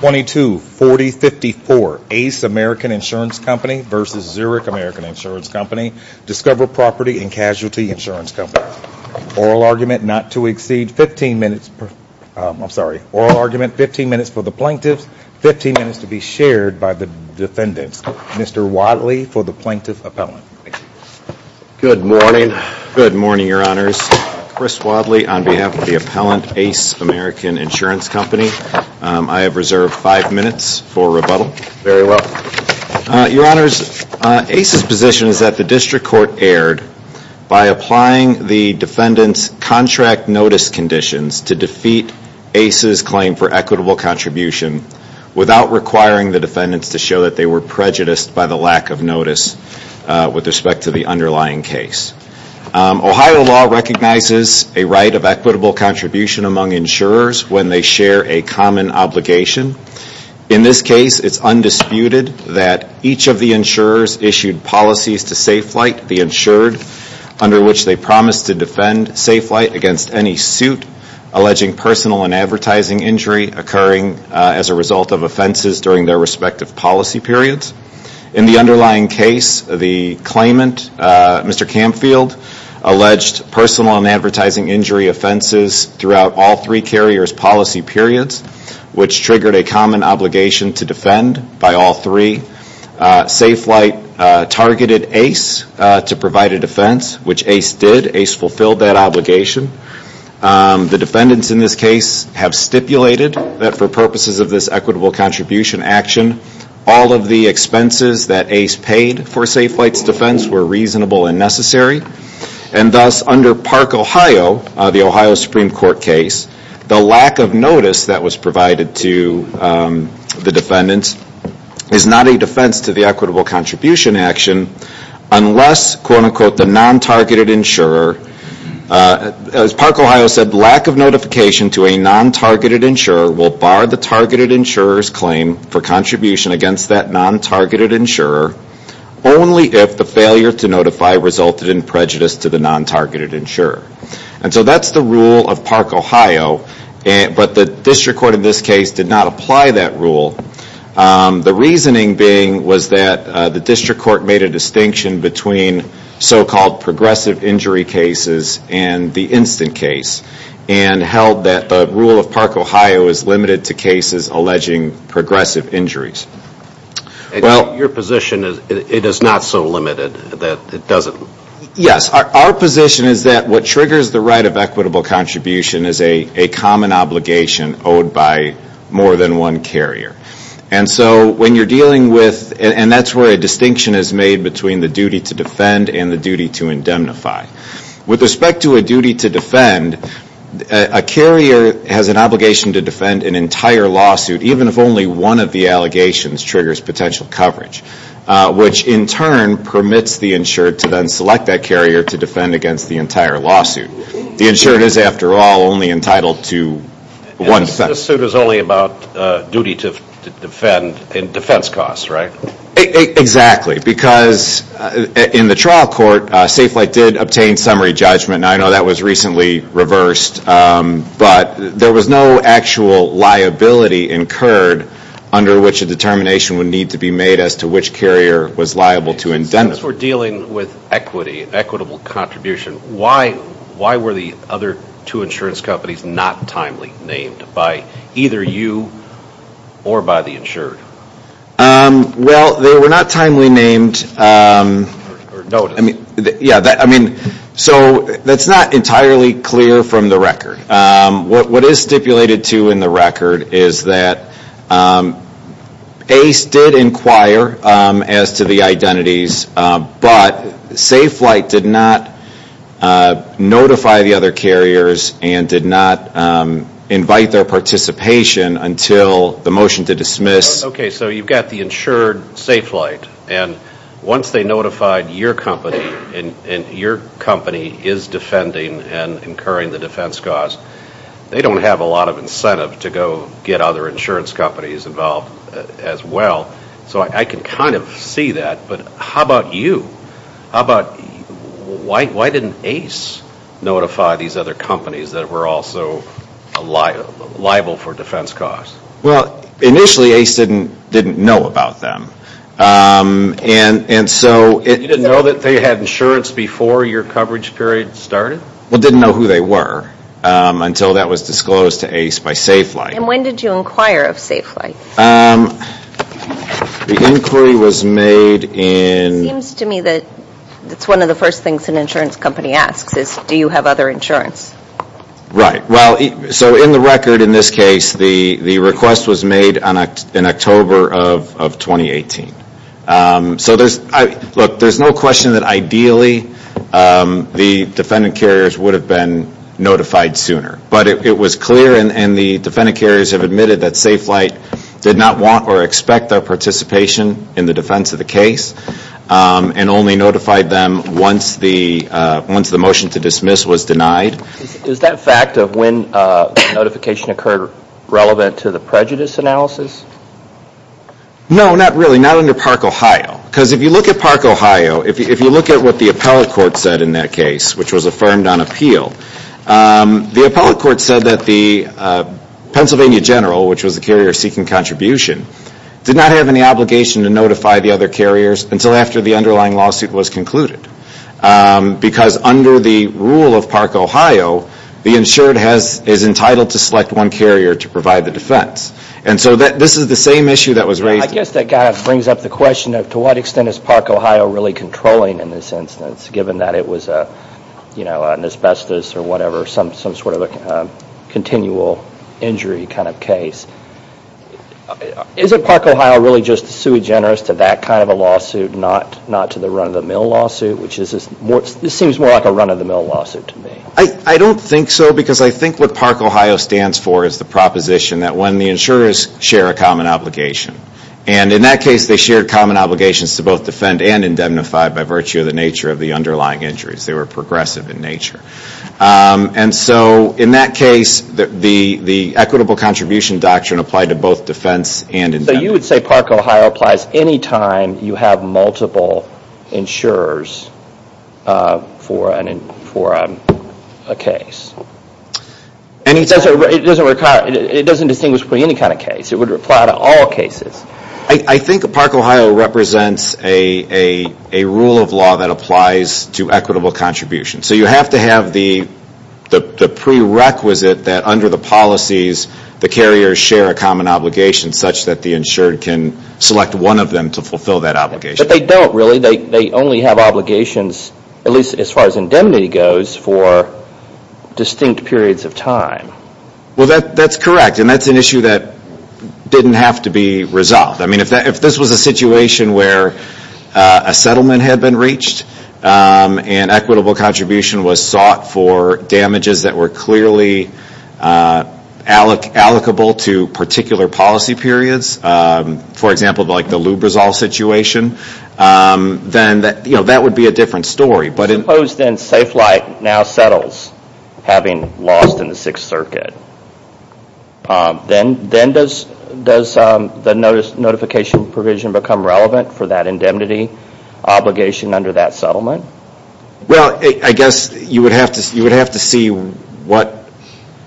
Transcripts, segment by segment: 224054 Ace American Insurance Company v. Zurich American Insurance Company, Discover Property and Casualty Insurance Company. Oral argument not to exceed 15 minutes, I'm sorry, oral argument 15 minutes for the plaintiffs, 15 minutes to be shared by the defendants. Mr. Wadley for the plaintiff appellant. Good morning. Good morning, Your Honors. Chris Wadley on behalf of the appellant Ace American Insurance Company. I have reserved five minutes for rebuttal. Very well. Your Honors, Ace's position is that the district court erred by applying the defendant's contract notice conditions to defeat Ace's claim for equitable contribution without requiring the defendants to show that they were prejudiced by the lack of notice respect to the underlying case. Ohio law recognizes a right of equitable contribution among insurers when they share a common obligation. In this case, it's undisputed that each of the insurers issued policies to Safe Flight, the insured, under which they promised to defend Safe Flight against any suit alleging personal and advertising injury occurring as a result of offenses during their respective policy periods. In the underlying case, the claimant, Mr. Camfield, alleged personal and advertising injury offenses throughout all three carriers' policy periods, which triggered a common obligation to defend by all three. Safe Flight targeted Ace to provide a defense, which Ace did. Ace fulfilled that obligation. The defendants in this case have stipulated that for purposes of this equitable contribution action, all of the expenses that Ace paid for Safe Flight's defense were reasonable and necessary. And thus, under Park, Ohio, the Ohio Supreme Court case, the lack of notice that was provided to the defendants is not a defense to the equitable contribution action unless, quote unquote, the non-targeted insurer, as Park, Ohio, said, lack of notification to a non-targeted insurer will bar the targeted insurer's claim for contribution against that non-targeted insurer only if the failure to notify resulted in prejudice to the non-targeted insurer. And so that's the rule of Park, Ohio, but the district court in this case did not apply that rule. The reasoning being was that the district court made a distinction between so-called progressive injury cases and the instant case and held that the rule of Park, Ohio, is limited to cases alleging progressive injuries. Well, your position is it is not so limited that it doesn't? Yes. Our position is that what triggers the right of equitable contribution is a common obligation owed by more than one carrier. And so when you're dealing with, and that's where a distinction is made between the duty to defend and the duty to indemnify. With respect to a duty to defend, a carrier has an obligation to defend an entire lawsuit even if only one of the allegations triggers potential coverage, which in turn permits the insured to then select that carrier to defend against the entire lawsuit. The insured is, after all, only entitled to one defense. The suit is only about duty to defend and defense costs, right? Exactly. Because in the trial court, Safe Flight did obtain summary judgment, and I know that was recently reversed, but there was no actual liability incurred under which a determination would need to be made as to which carrier was liable to indemnify. As we're dealing with equity, equitable contribution, why were the other two insurance companies not timely named by either you or by the insured? That's not entirely clear from the record. What is stipulated, too, in the record is that ACE did inquire as to the identities, but Safe Flight did not notify the other carriers and did not invite their participation until the motion to dismiss. Okay, so you've got the insured, Safe Flight, and once they notified your company and your company is defending and incurring the defense costs, they don't have a lot of incentive to go get other insurance companies involved as well. So I can kind of see that, but how about you? How about, why didn't ACE notify these other companies that were also liable for defense costs? Well, initially ACE didn't know about them. And you didn't know that they had insurance before your coverage period started? Well, didn't know who they were until that was disclosed to ACE by Safe Flight. And when did you inquire of Safe Flight? The inquiry was made in... It seems to me that it's one of the first things an insurance company asks is, do you have other insurance? Right. So in the record, in this case, the request was made in October of 2018. So there's no question that ideally the defendant carriers would have been notified sooner. But it was clear and the defendant carriers have admitted that Safe Flight did not want or expect their participation in the defense of the case and only notified them once the motion to dismiss was denied. Is that fact of when notification occurred relevant to the prejudice analysis? No, not really. Not under Park, Ohio. Because if you look at Park, Ohio, if you look at what the appellate court said in that case, which was affirmed on appeal, the appellate court said that the Pennsylvania general, which was the carrier seeking contribution, did not have any obligation to notify the other carriers until after the underlying lawsuit was concluded. Because under the rule of Park, Ohio, the insured is entitled to select one carrier to provide the defense. And so this is the same issue that was raised. I guess that kind of brings up the question of to what extent is Park, Ohio really controlling in this instance, given that it was an asbestos or whatever, some sort of a continual injury kind of case. Is it Park, Ohio really just sui generis to that kind of a lawsuit, not to the run-of-the-mill lawsuit? This seems more like a run-of-the-mill lawsuit to me. I don't think so, because I think what Park, Ohio stands for is the proposition that when the insurers share a common obligation, and in that case they shared common obligations to both defend and indemnify by virtue of the nature of the underlying injuries. They were progressive in nature. And so in that case, the equitable contribution doctrine applied to both defense and indemnity. So you would say Park, Ohio applies any time you have multiple insurers for a case. It doesn't distinguish between any kind of case. It would apply to all cases. I think Park, Ohio represents a rule of law that applies to equitable contribution. So you have to have the prerequisite that under the policies, the carriers share a common obligation such that the insured can select one of them to fulfill that obligation. But they don't really. They only have obligations, at least as far as indemnity goes, for distinct periods of time. Well, that's correct. And that's an issue that didn't have to be resolved. If this was a situation where a settlement had been reached and equitable contribution was sought for damages that were clearly allocable to particular policy periods, for example, like the Lubrizol situation, then that would be a different story. Suppose then Safe Flight now settles having lost in the Sixth Circuit. Then does the notification provision become relevant for that indemnity obligation under that settlement? Well, I guess you would have to see what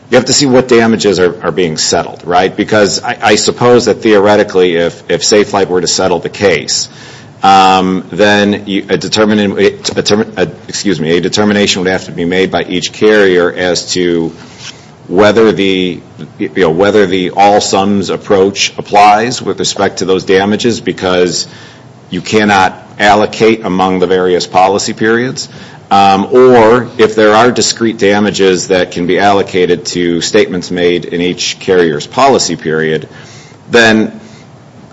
damages are being settled, right? Because I suppose that theoretically if Safe Flight were to settle the case, then a determination would have to be made by each carrier as to whether the all sums approach applies with respect to those damages, because you cannot allocate among the various policy periods. Or if there are discrete damages that can be allocated to statements made in each carrier's policy period, then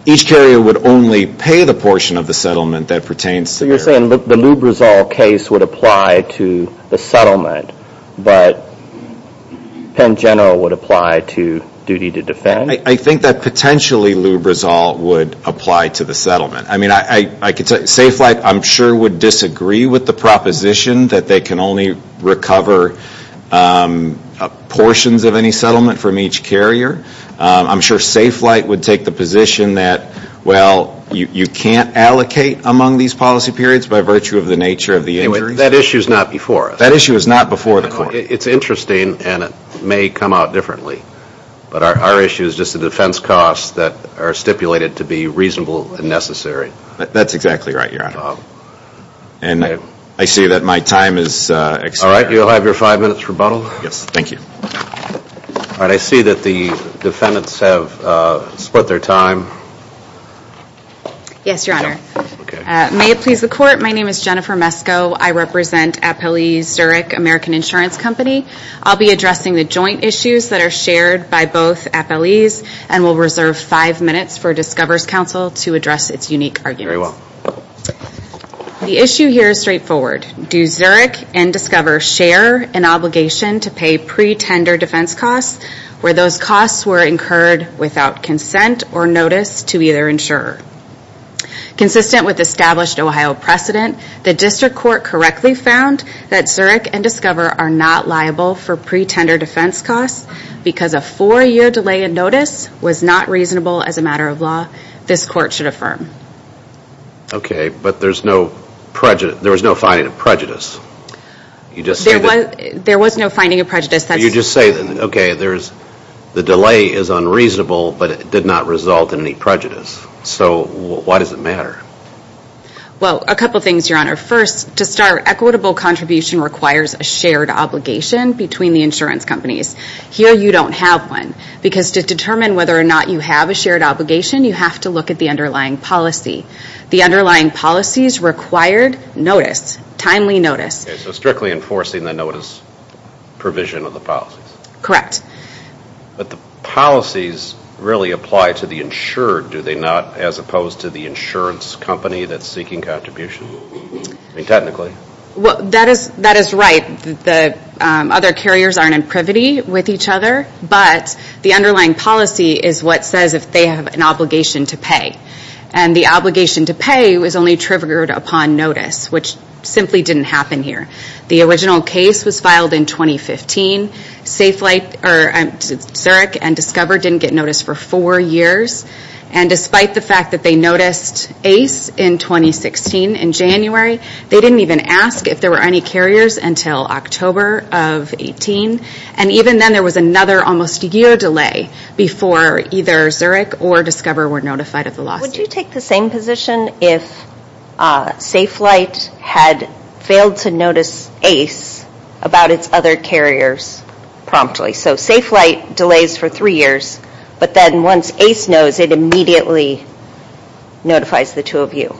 each carrier would only pay the portion of the settlement that pertains to So you're saying the Lubrizol case would apply to the settlement, but Penn General would apply to duty to defend? I think that potentially Lubrizol would apply to the settlement. I mean, Safe Flight I'm sure would disagree with the proposition that they can only recover portions of any settlement from each carrier. I'm sure Safe Flight would take the position that, well, you can't allocate among these policy periods by virtue of the nature of the injuries. That issue is not before us. That issue is not before the court. It's interesting, and it may come out differently. But our issue is just the defense costs that are stipulated to be reasonable and necessary. That's exactly right, Your Honor. And I see that my time is expired. All right, you'll have your five minutes rebuttal. Yes, thank you. All right, I see that the defendants have split their time. Yes, Your Honor. May it please the court, my name is Jennifer Mesko. I represent Appellee Zurich American Insurance Company. I'll be addressing the joint issues that are shared by both appellees and will reserve five minutes for Discover's counsel to address its unique arguments. Very well. The issue here is straightforward. Do Zurich and Discover share an obligation to pay pre-tender defense costs where those costs were incurred without consent or notice to either insurer? Consistent with established Ohio precedent, the district court correctly found that Zurich and Discover are not liable for pre-tender defense costs because a four-year delay in notice was not reasonable as a matter of law. This court should affirm. Okay, but there's no finding of prejudice. You just say that... There was no finding of prejudice. You just say, okay, the delay is unreasonable, but it did not result in any prejudice. So why does it matter? Well, a couple things, Your Honor. First, to start, equitable contribution requires a shared obligation between the insurance companies. Here, you don't have one because to determine whether or not you have a shared obligation, you have to look at the underlying policy. The underlying policies required notice, timely notice. Okay, so strictly enforcing the notice provision of the policies. Correct. But the policies really apply to the insured, do they not, as opposed to the insurance company that's seeking contribution? I mean, technically. That is right. The other carriers aren't in privity with each other, but the underlying policy is what says if they have an obligation to pay. And the obligation to pay was only triggered upon notice, which simply didn't happen here. The original case was filed in 2015. Zurich and Discover didn't get notice for four years, and despite the fact that they noticed ACE in 2016 in January, they didn't even ask if there were any carriers until October of 18. And even then, there was another almost year delay before either Zurich or Discover were notified of the lawsuit. Would you take the same position if Safe Flight had failed to notice ACE about its other carriers? So, Safe Flight delays for three years, but then once ACE knows, it immediately notifies the two of you?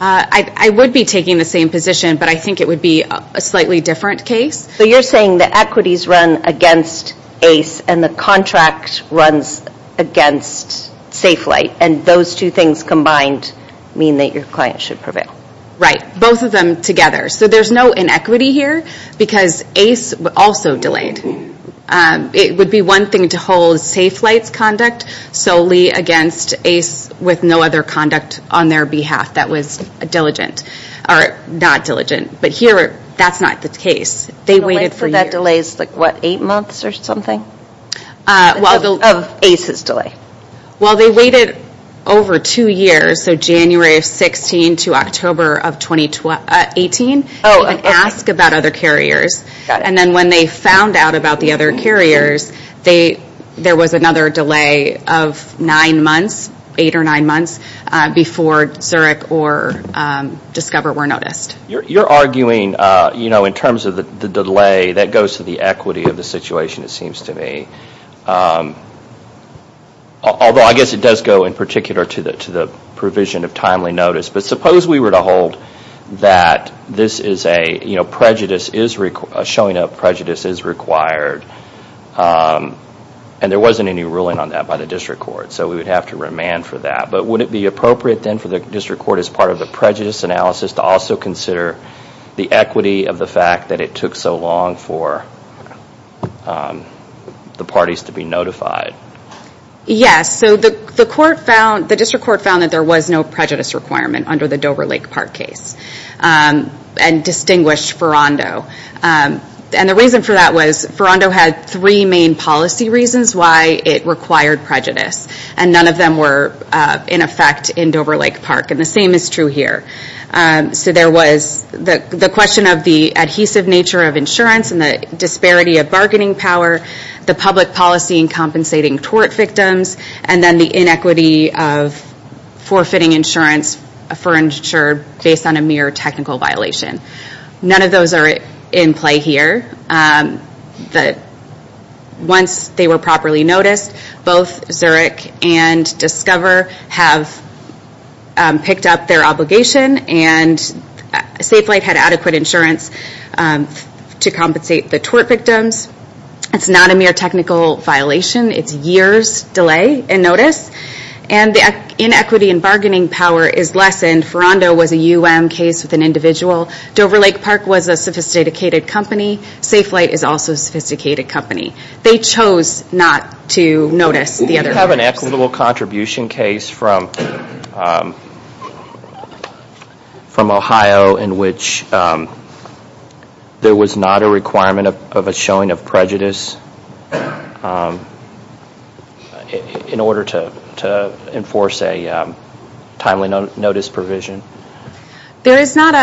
I would be taking the same position, but I think it would be a slightly different case. So, you're saying the equities run against ACE and the contract runs against Safe Flight, and those two things combined mean that your client should prevail? Right. Both of them together. So, there's no inequity here, because ACE also delayed. It would be one thing to hold Safe Flight's conduct solely against ACE with no other conduct on their behalf that was not diligent. But here, that's not the case. They waited for years. So, that delays, what, eight months or something? Of ACE's delay? Well, they waited over two years, so January of 16 to October of 2018, and asked about other carriers. And then when they found out about the other carriers, there was another delay of nine months, eight or nine months, before Zurich or Discover were noticed. You're arguing, in terms of the delay, that goes to the equity of the situation, it seems to me. Although, I guess it does go, in particular, to the provision of timely notice, but suppose we were to hold that this is a, showing up prejudice is required, and there wasn't any ruling on that by the district court, so we would have to remand for that. But would it be appropriate, then, for the district court, as part of the prejudice analysis, to also consider the equity of the fact that it took so long for the parties to be notified? Yes, so the court found, the district court found that there was no prejudice requirement under the Dover Lake Park case, and distinguished Ferrando. And the reason for that was, Ferrando had three main policy reasons why it required prejudice, and none of them were in effect in Dover Lake Park, and the same is true here. So there was the question of the adhesive nature of insurance, and the disparity of bargaining power, the public policy in compensating tort victims, and then the inequity of forfeiting insurance, based on a mere technical violation. None of those are in play here. Once they were properly noticed, both Zurich and Discover have picked up their obligation, and Safelite had adequate insurance to compensate the tort victims. It's not a mere technical violation. It's years delay in notice, and the inequity in bargaining power is lessened. Ferrando was a UM case with an individual. Dover Lake Park was a sophisticated company. Safelite is also a sophisticated company. They chose not to notice the other. Do you have an equitable contribution case from Ohio in which there was not a requirement of a showing of prejudice in order to enforce a timely notice provision? There is not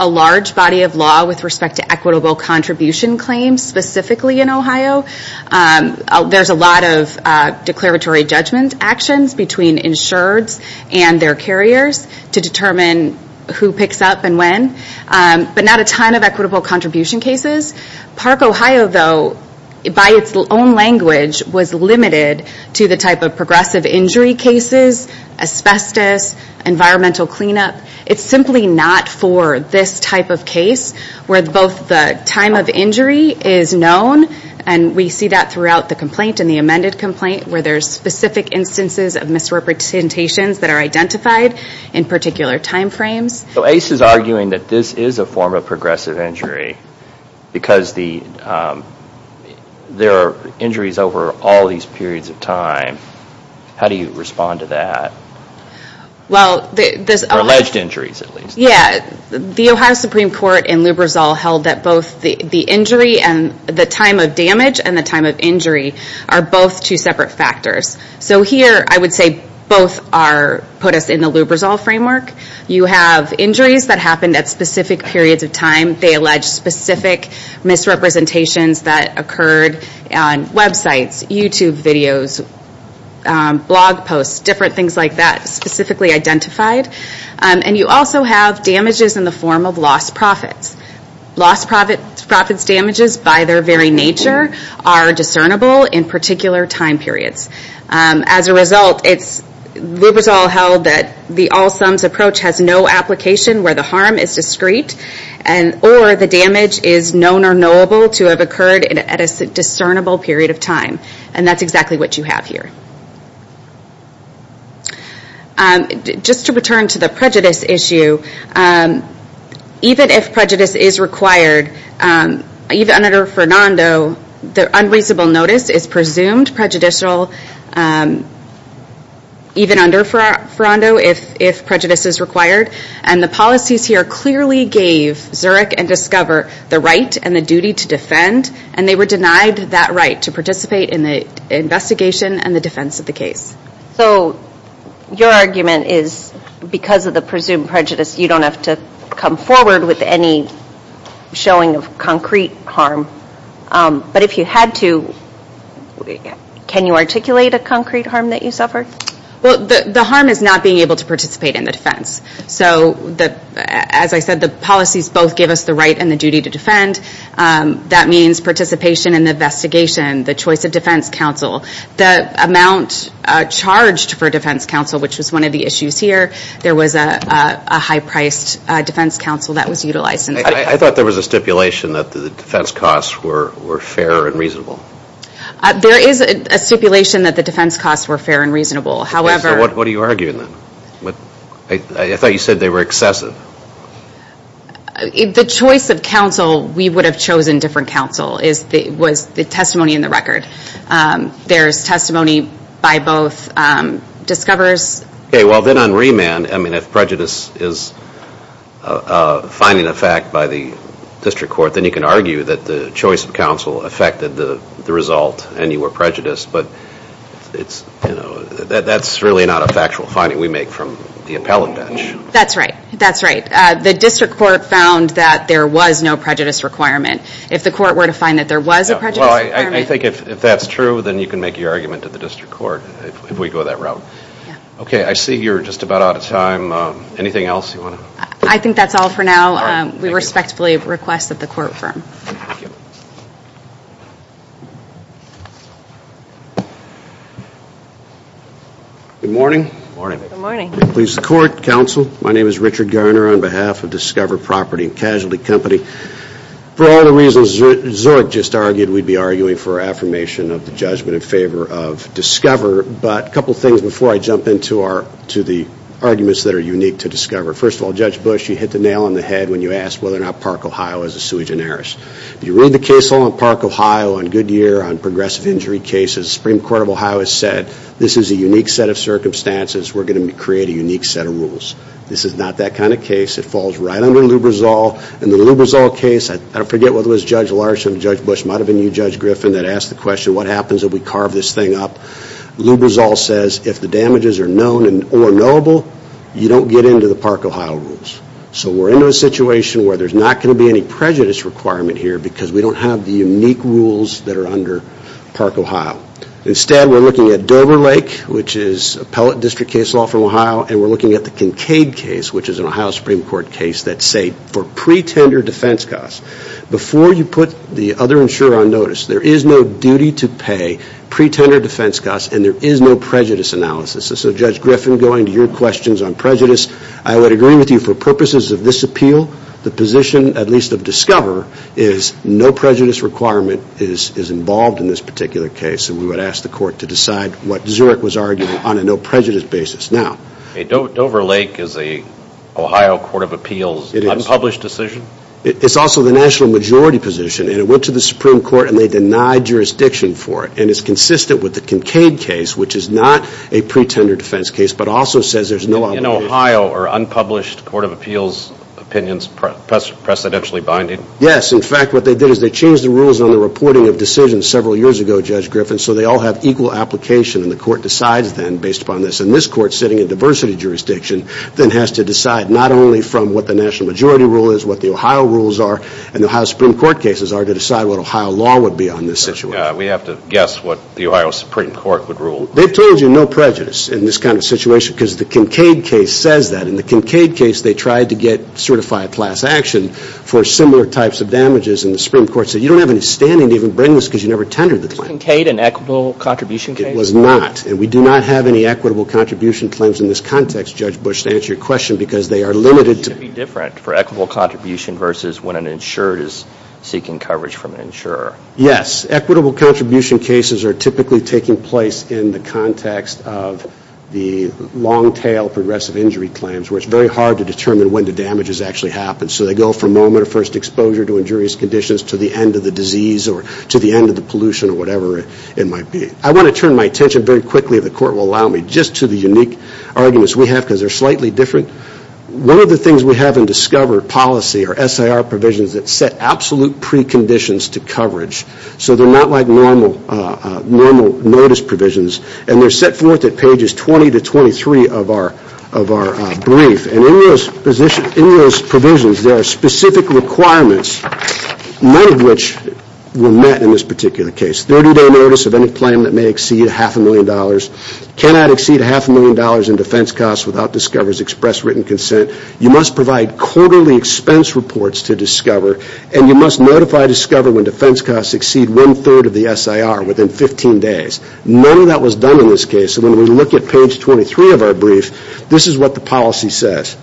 a large body of law with respect to equitable contribution claims specifically in Ohio. There's a lot of declaratory judgment actions between insureds and their carriers to determine who picks up and when, but not a ton of equitable contribution cases. Park Ohio though, by its own language, was limited to the type of progressive injury cases, asbestos, environmental cleanup. It's simply not for this type of case where both the time of injury is known, and we see that throughout the complaint and the amended complaint where there's specific instances of misrepresentations that are identified in particular time frames. So ACE is arguing that this is a form of progressive injury because there are injuries over all these periods of time. How do you respond to that? Or alleged injuries at least. The Ohio Supreme Court in Lubrizol held that both the time of damage and the time of injury are both two separate factors. So here I would say both put us in the Lubrizol framework. You have injuries that happened at specific periods of time. They allege specific misrepresentations that occurred on websites, YouTube videos, blog posts, different things like that specifically identified. And you also have damages in the form of lost profits. Lost profits damages by their very nature are discernible in particular time periods. As a result, Lubrizol held that the all sums approach has no application where the harm is discrete, or the damage is known or knowable to have occurred at a discernible period of time. And that's exactly what you have here. Just to return to the prejudice issue, even if prejudice is required, even under Fernando, the unreasonable notice is presumed prejudicial even under Fernando if prejudice is required. And the policies here clearly gave Zurich and Discover the right and the duty to defend and they were denied that right to participate in the investigation and the defense of the So your argument is because of the presumed prejudice you don't have to come forward with any showing of concrete harm. But if you had to, can you articulate a concrete harm that you suffered? The harm is not being able to participate in the defense. So as I said, the policies both give us the right and the duty to defend. That means participation in the investigation, the choice of defense counsel. The amount charged for defense counsel, which was one of the issues here, there was a high priced defense counsel that was utilized. I thought there was a stipulation that the defense costs were fair and reasonable. There is a stipulation that the defense costs were fair and reasonable. What are you arguing then? I thought you said they were excessive. The choice of counsel, we would have chosen different counsel, was the testimony in the record. There is testimony by both Discoverers... Okay, well then on remand, if prejudice is finding effect by the district court, then you can argue that the choice of counsel affected the result and you were prejudiced, but that is really not a factual finding we make from the appellate bench. That's right. That's right. The district court found that there was no prejudice requirement. If the court were to find that there was a prejudice requirement... I think if that's true, then you can make your argument to the district court if we go that route. Okay, I see you're just about out of time. Anything else you want to... I think that's all for now. We respectfully request that the court firm... Good morning. Good morning. Good morning. Please, the court, counsel, my name is Richard Garner on behalf of Discover Property and Casualty Company. For all the reasons Zork just argued, we'd be arguing for affirmation of the judgment in favor of Discover, but a couple things before I jump into the arguments that are unique to Discover. First of all, Judge Bush, you hit the nail on the head when you asked whether or not Park, Ohio is a sui generis. If you read the case law in Park, Ohio on Goodyear on progressive injury cases, Supreme Court of Ohio has said, this is a unique set of circumstances. We're going to create a unique set of rules. This is not that kind of case. It falls right under Lubrizol. In the Lubrizol case, I forget whether it was Judge Larson or Judge Bush, it might have been you, Judge Griffin, that asked the question, what happens if we carve this thing up? Lubrizol says, if the damages are known or knowable, you don't get into the Park, Ohio rules. So we're into a situation where there's not going to be any prejudice requirement here because we don't have the unique rules that are under Park, Ohio. Instead, we're looking at Dover Lake, which is appellate district case law from Ohio, and we're looking at the Kincaid case, which is an Ohio Supreme Court case that's safe for pre-tender defense costs. Before you put the other insurer on notice, there is no duty to pay pre-tender defense costs and there is no prejudice analysis. So Judge Griffin, going to your questions on prejudice, I would agree with you for purposes of this appeal, the position, at least of Discover, is no prejudice requirement is involved in this particular case and we would ask the court to decide what Zurich was arguing on a no prejudice basis. Now, Dover Lake is a Ohio Court of Appeals unpublished decision? It's also the national majority position and it went to the Supreme Court and they denied jurisdiction for it and it's consistent with the Kincaid case, which is not a pre-tender defense case, but also says there's no obligation. In Ohio, are unpublished Court of Appeals opinions precedentially binding? Yes. In fact, what they did is they changed the rules on the reporting of decisions several years ago, Judge Griffin, so they all have equal application and the court decides then, based upon this, and this court sitting in diversity jurisdiction then has to decide not only from what the national majority rule is, what the Ohio rules are, and the Ohio Supreme Court cases are to decide what Ohio law would be on this situation. We have to guess what the Ohio Supreme Court would rule. They've told you no prejudice in this kind of situation because the Kincaid case says that. In the Kincaid case, they tried to get certified class action for similar types of damages and the Supreme Court said you don't have any standing to even bring this because you never tendered the claim. Was the Kincaid an equitable contribution case? It was not and we do not have any equitable contribution claims in this context, Judge Bush, to answer your question because they are limited to It should be different for equitable contribution versus when an insurer is seeking coverage from an insurer. Yes. Equitable contribution cases are typically taking place in the context of the long tail progressive injury claims where it's very hard to determine when the damage actually happens. So they go from moment of first exposure to injurious conditions to the end of the disease or to the end of the pollution or whatever it might be. I want to turn my attention very quickly, if the court will allow me, just to the unique arguments we have because they are slightly different. One of the things we have in discovered policy are SIR provisions that set absolute preconditions to coverage. So they are not like normal notice provisions and they are set forth at pages 20 to 23 of our brief. And in those provisions, there are specific requirements, none of which were met in this particular case. 30 day notice of any claim that may exceed half a million dollars, cannot exceed half a million dollars in defense costs without Discover's express written consent, you must provide quarterly expense reports to Discover, and you must notify Discover when defense costs exceed one third of the SIR within 15 days. None of that was done in this case. So when we look at page 23 of our brief, this is what the policy says.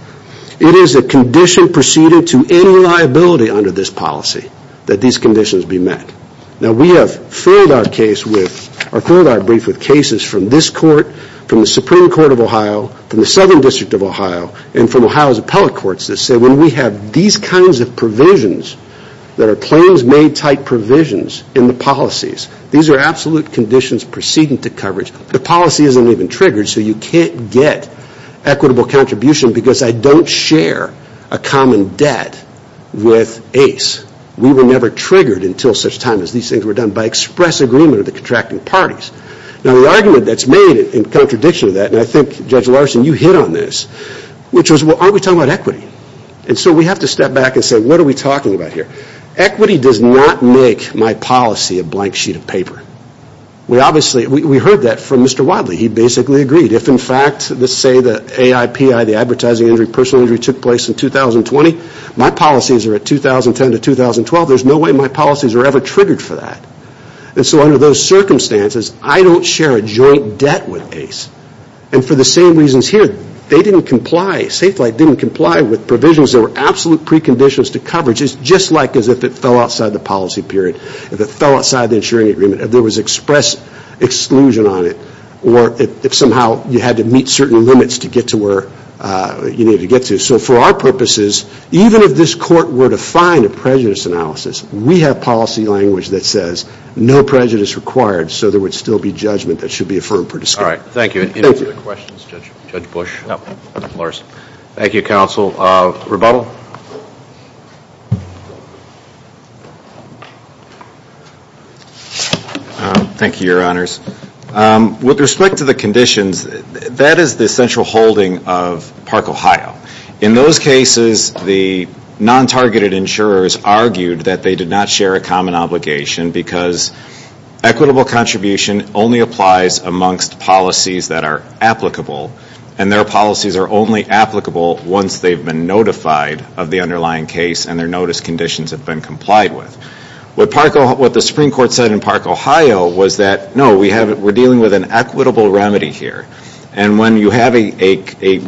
It is a condition preceded to any liability under this policy that these conditions be met. Now we have filled our brief with cases from this court, from the Supreme Court of Ohio, from the Southern District of Ohio, and from Ohio's appellate courts that say when we have these kinds of provisions that are claims made type provisions in the policies, these are absolute conditions preceding to coverage. The policy isn't even triggered, so you can't get equitable contribution because I don't share a common debt with Ace. We were never triggered until such time as these things were done by express agreement of the contracting parties. Now the argument that's made in contradiction to that, and I think Judge Larson, you hit on this, which was, well, aren't we talking about equity? And so we have to step back and say, what are we talking about here? Equity does not make my policy a blank sheet of paper. We obviously, we heard that from Mr. Wadley. He basically agreed. If in fact, let's say that AIPI, the advertising injury, personal injury took place in 2020, my policies are at 2010 to 2012, there's no way my policies are ever triggered for that. And so under those circumstances, I don't share a joint debt with Ace. And for the same reasons here, they didn't comply, Safe Flight didn't comply with provisions because there were absolute preconditions to coverage, just like as if it fell outside the policy period, if it fell outside the insuring agreement, if there was express exclusion on it, or if somehow you had to meet certain limits to get to where you needed to get to. So for our purposes, even if this court were to find a prejudice analysis, we have policy language that says, no prejudice required, so there would still be judgment that should be affirmed. All right. Thank you. Thank you. Any other questions, Judge Bush? No. Thank you, Counsel. Rebuttal? Thank you, Your Honors. With respect to the conditions, that is the central holding of Park, Ohio. In those cases, the non-targeted insurers argued that they did not share a common obligation because equitable contribution only applies amongst policies that are applicable, and their policies are only applicable once they've been notified of the underlying case and their notice conditions have been complied with. What the Supreme Court said in Park, Ohio was that, no, we're dealing with an equitable remedy here, and when you have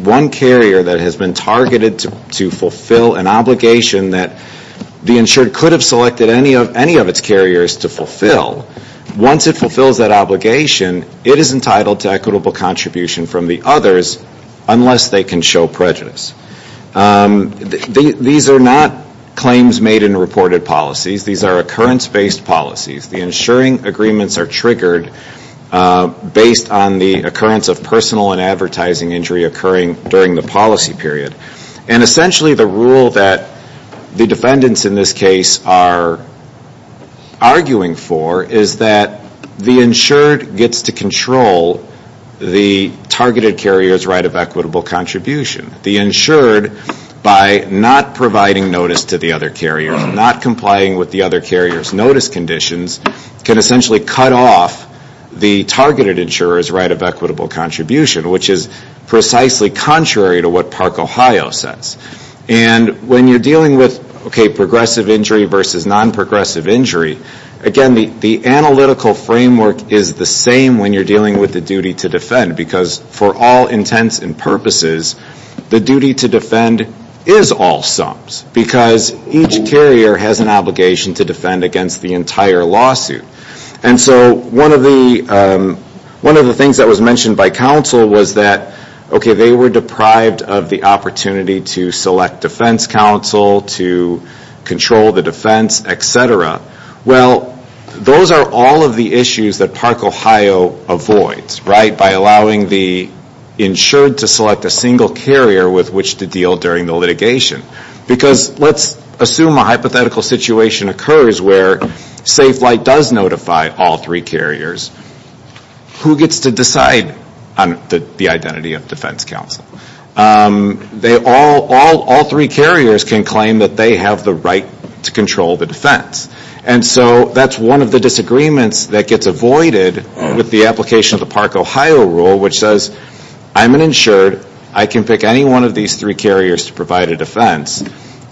one carrier that has been targeted to fulfill an obligation that the insured could have selected any of its carriers to fulfill, once it fulfills that obligation, it is entitled to equitable contribution from the others unless they can show prejudice. These are not claims made in reported policies. These are occurrence-based policies. The insuring agreements are triggered based on the occurrence of personal and advertising injury occurring during the policy period, and essentially the rule that the defendants in this case are arguing for is that the insured gets to control the targeted carrier's right of equitable contribution. The insured, by not providing notice to the other carrier, not complying with the other carrier's notice conditions, can essentially cut off the targeted insurer's right of equitable contribution, which is precisely contrary to what Park, Ohio says. And when you're dealing with progressive injury versus non-progressive injury, again, the analytical framework is the same when you're dealing with the duty to defend, because for all intents and purposes, the duty to defend is all sums, because each carrier has an obligation to defend against the entire lawsuit. And so one of the things that was mentioned by counsel was that, okay, they were deprived of the opportunity to select defense counsel, to control the defense, et cetera. Well, those are all of the issues that Park, Ohio avoids, right, by allowing the insured to select a single carrier with which to deal during the litigation. Because let's assume a hypothetical situation occurs where Safe Flight does notify all three carriers. Who gets to decide on the identity of defense counsel? All three carriers can claim that they have the right to control the defense. And so that's one of the disagreements that gets avoided with the application of the Park, Ohio rule, which says, I'm an insured. I can pick any one of these three carriers to provide a defense.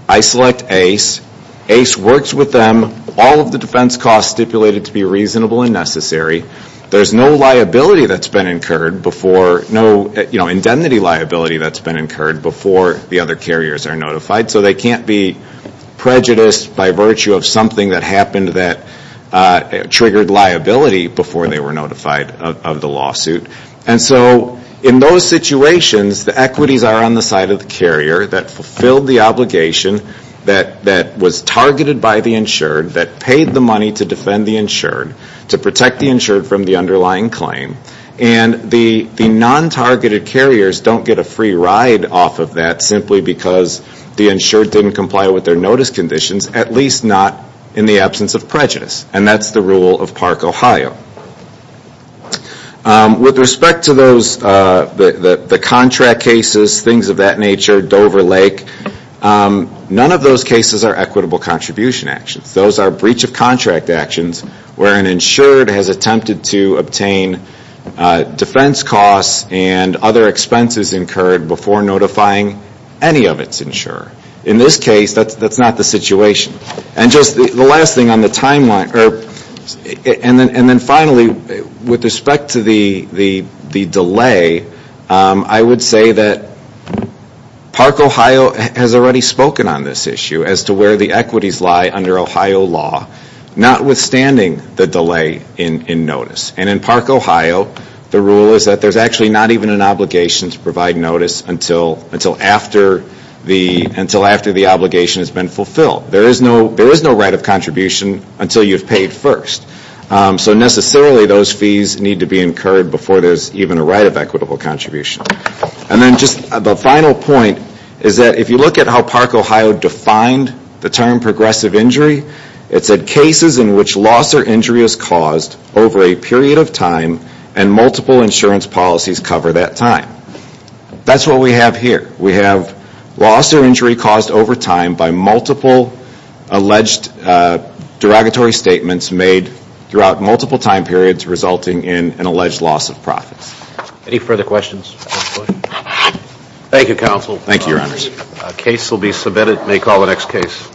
I select Ace. Ace works with them. All of the defense costs stipulated to be reasonable and necessary. There's no liability that's been incurred before, no indemnity liability that's been incurred before the other carriers are notified. So they can't be prejudiced by virtue of something that happened that triggered liability before they were notified of the lawsuit. And so in those situations, the equities are on the side of the carrier that fulfilled the obligation that was targeted by the insured, that paid the money to defend the insured, to protect the insured from the underlying claim. And the non-targeted carriers don't get a free ride off of that simply because the insured didn't comply with their notice conditions, at least not in the absence of prejudice. And that's the rule of Park, Ohio. With respect to those, the contract cases, things of that nature, Dover Lake, none of those cases are equitable contribution actions. Those are breach of contract actions where an insured has attempted to obtain defense costs and other expenses incurred before notifying any of its insurer. In this case, that's not the situation. And just the last thing on the timeline, and then finally, with respect to the delay, I would say that Park, Ohio has already spoken on this issue as to where the equities lie under Ohio law, notwithstanding the delay in notice. And in Park, Ohio, the rule is that there's actually not even an obligation to provide notice until after the obligation has been fulfilled. There is no right of contribution until you've paid first. So necessarily those fees need to be incurred before there's even a right of equitable contribution. And then just the final point is that if you look at how Park, Ohio defined the term progressive injury, it said cases in which loss or injury is caused over a period of time and multiple insurance policies cover that time. That's what we have here. We have loss or injury caused over time by multiple alleged derogatory statements made throughout multiple time periods resulting in an alleged loss of profits. Any further questions? Thank you, Counsel. Thank you, Your Honor. The case will be submitted. May call the next case.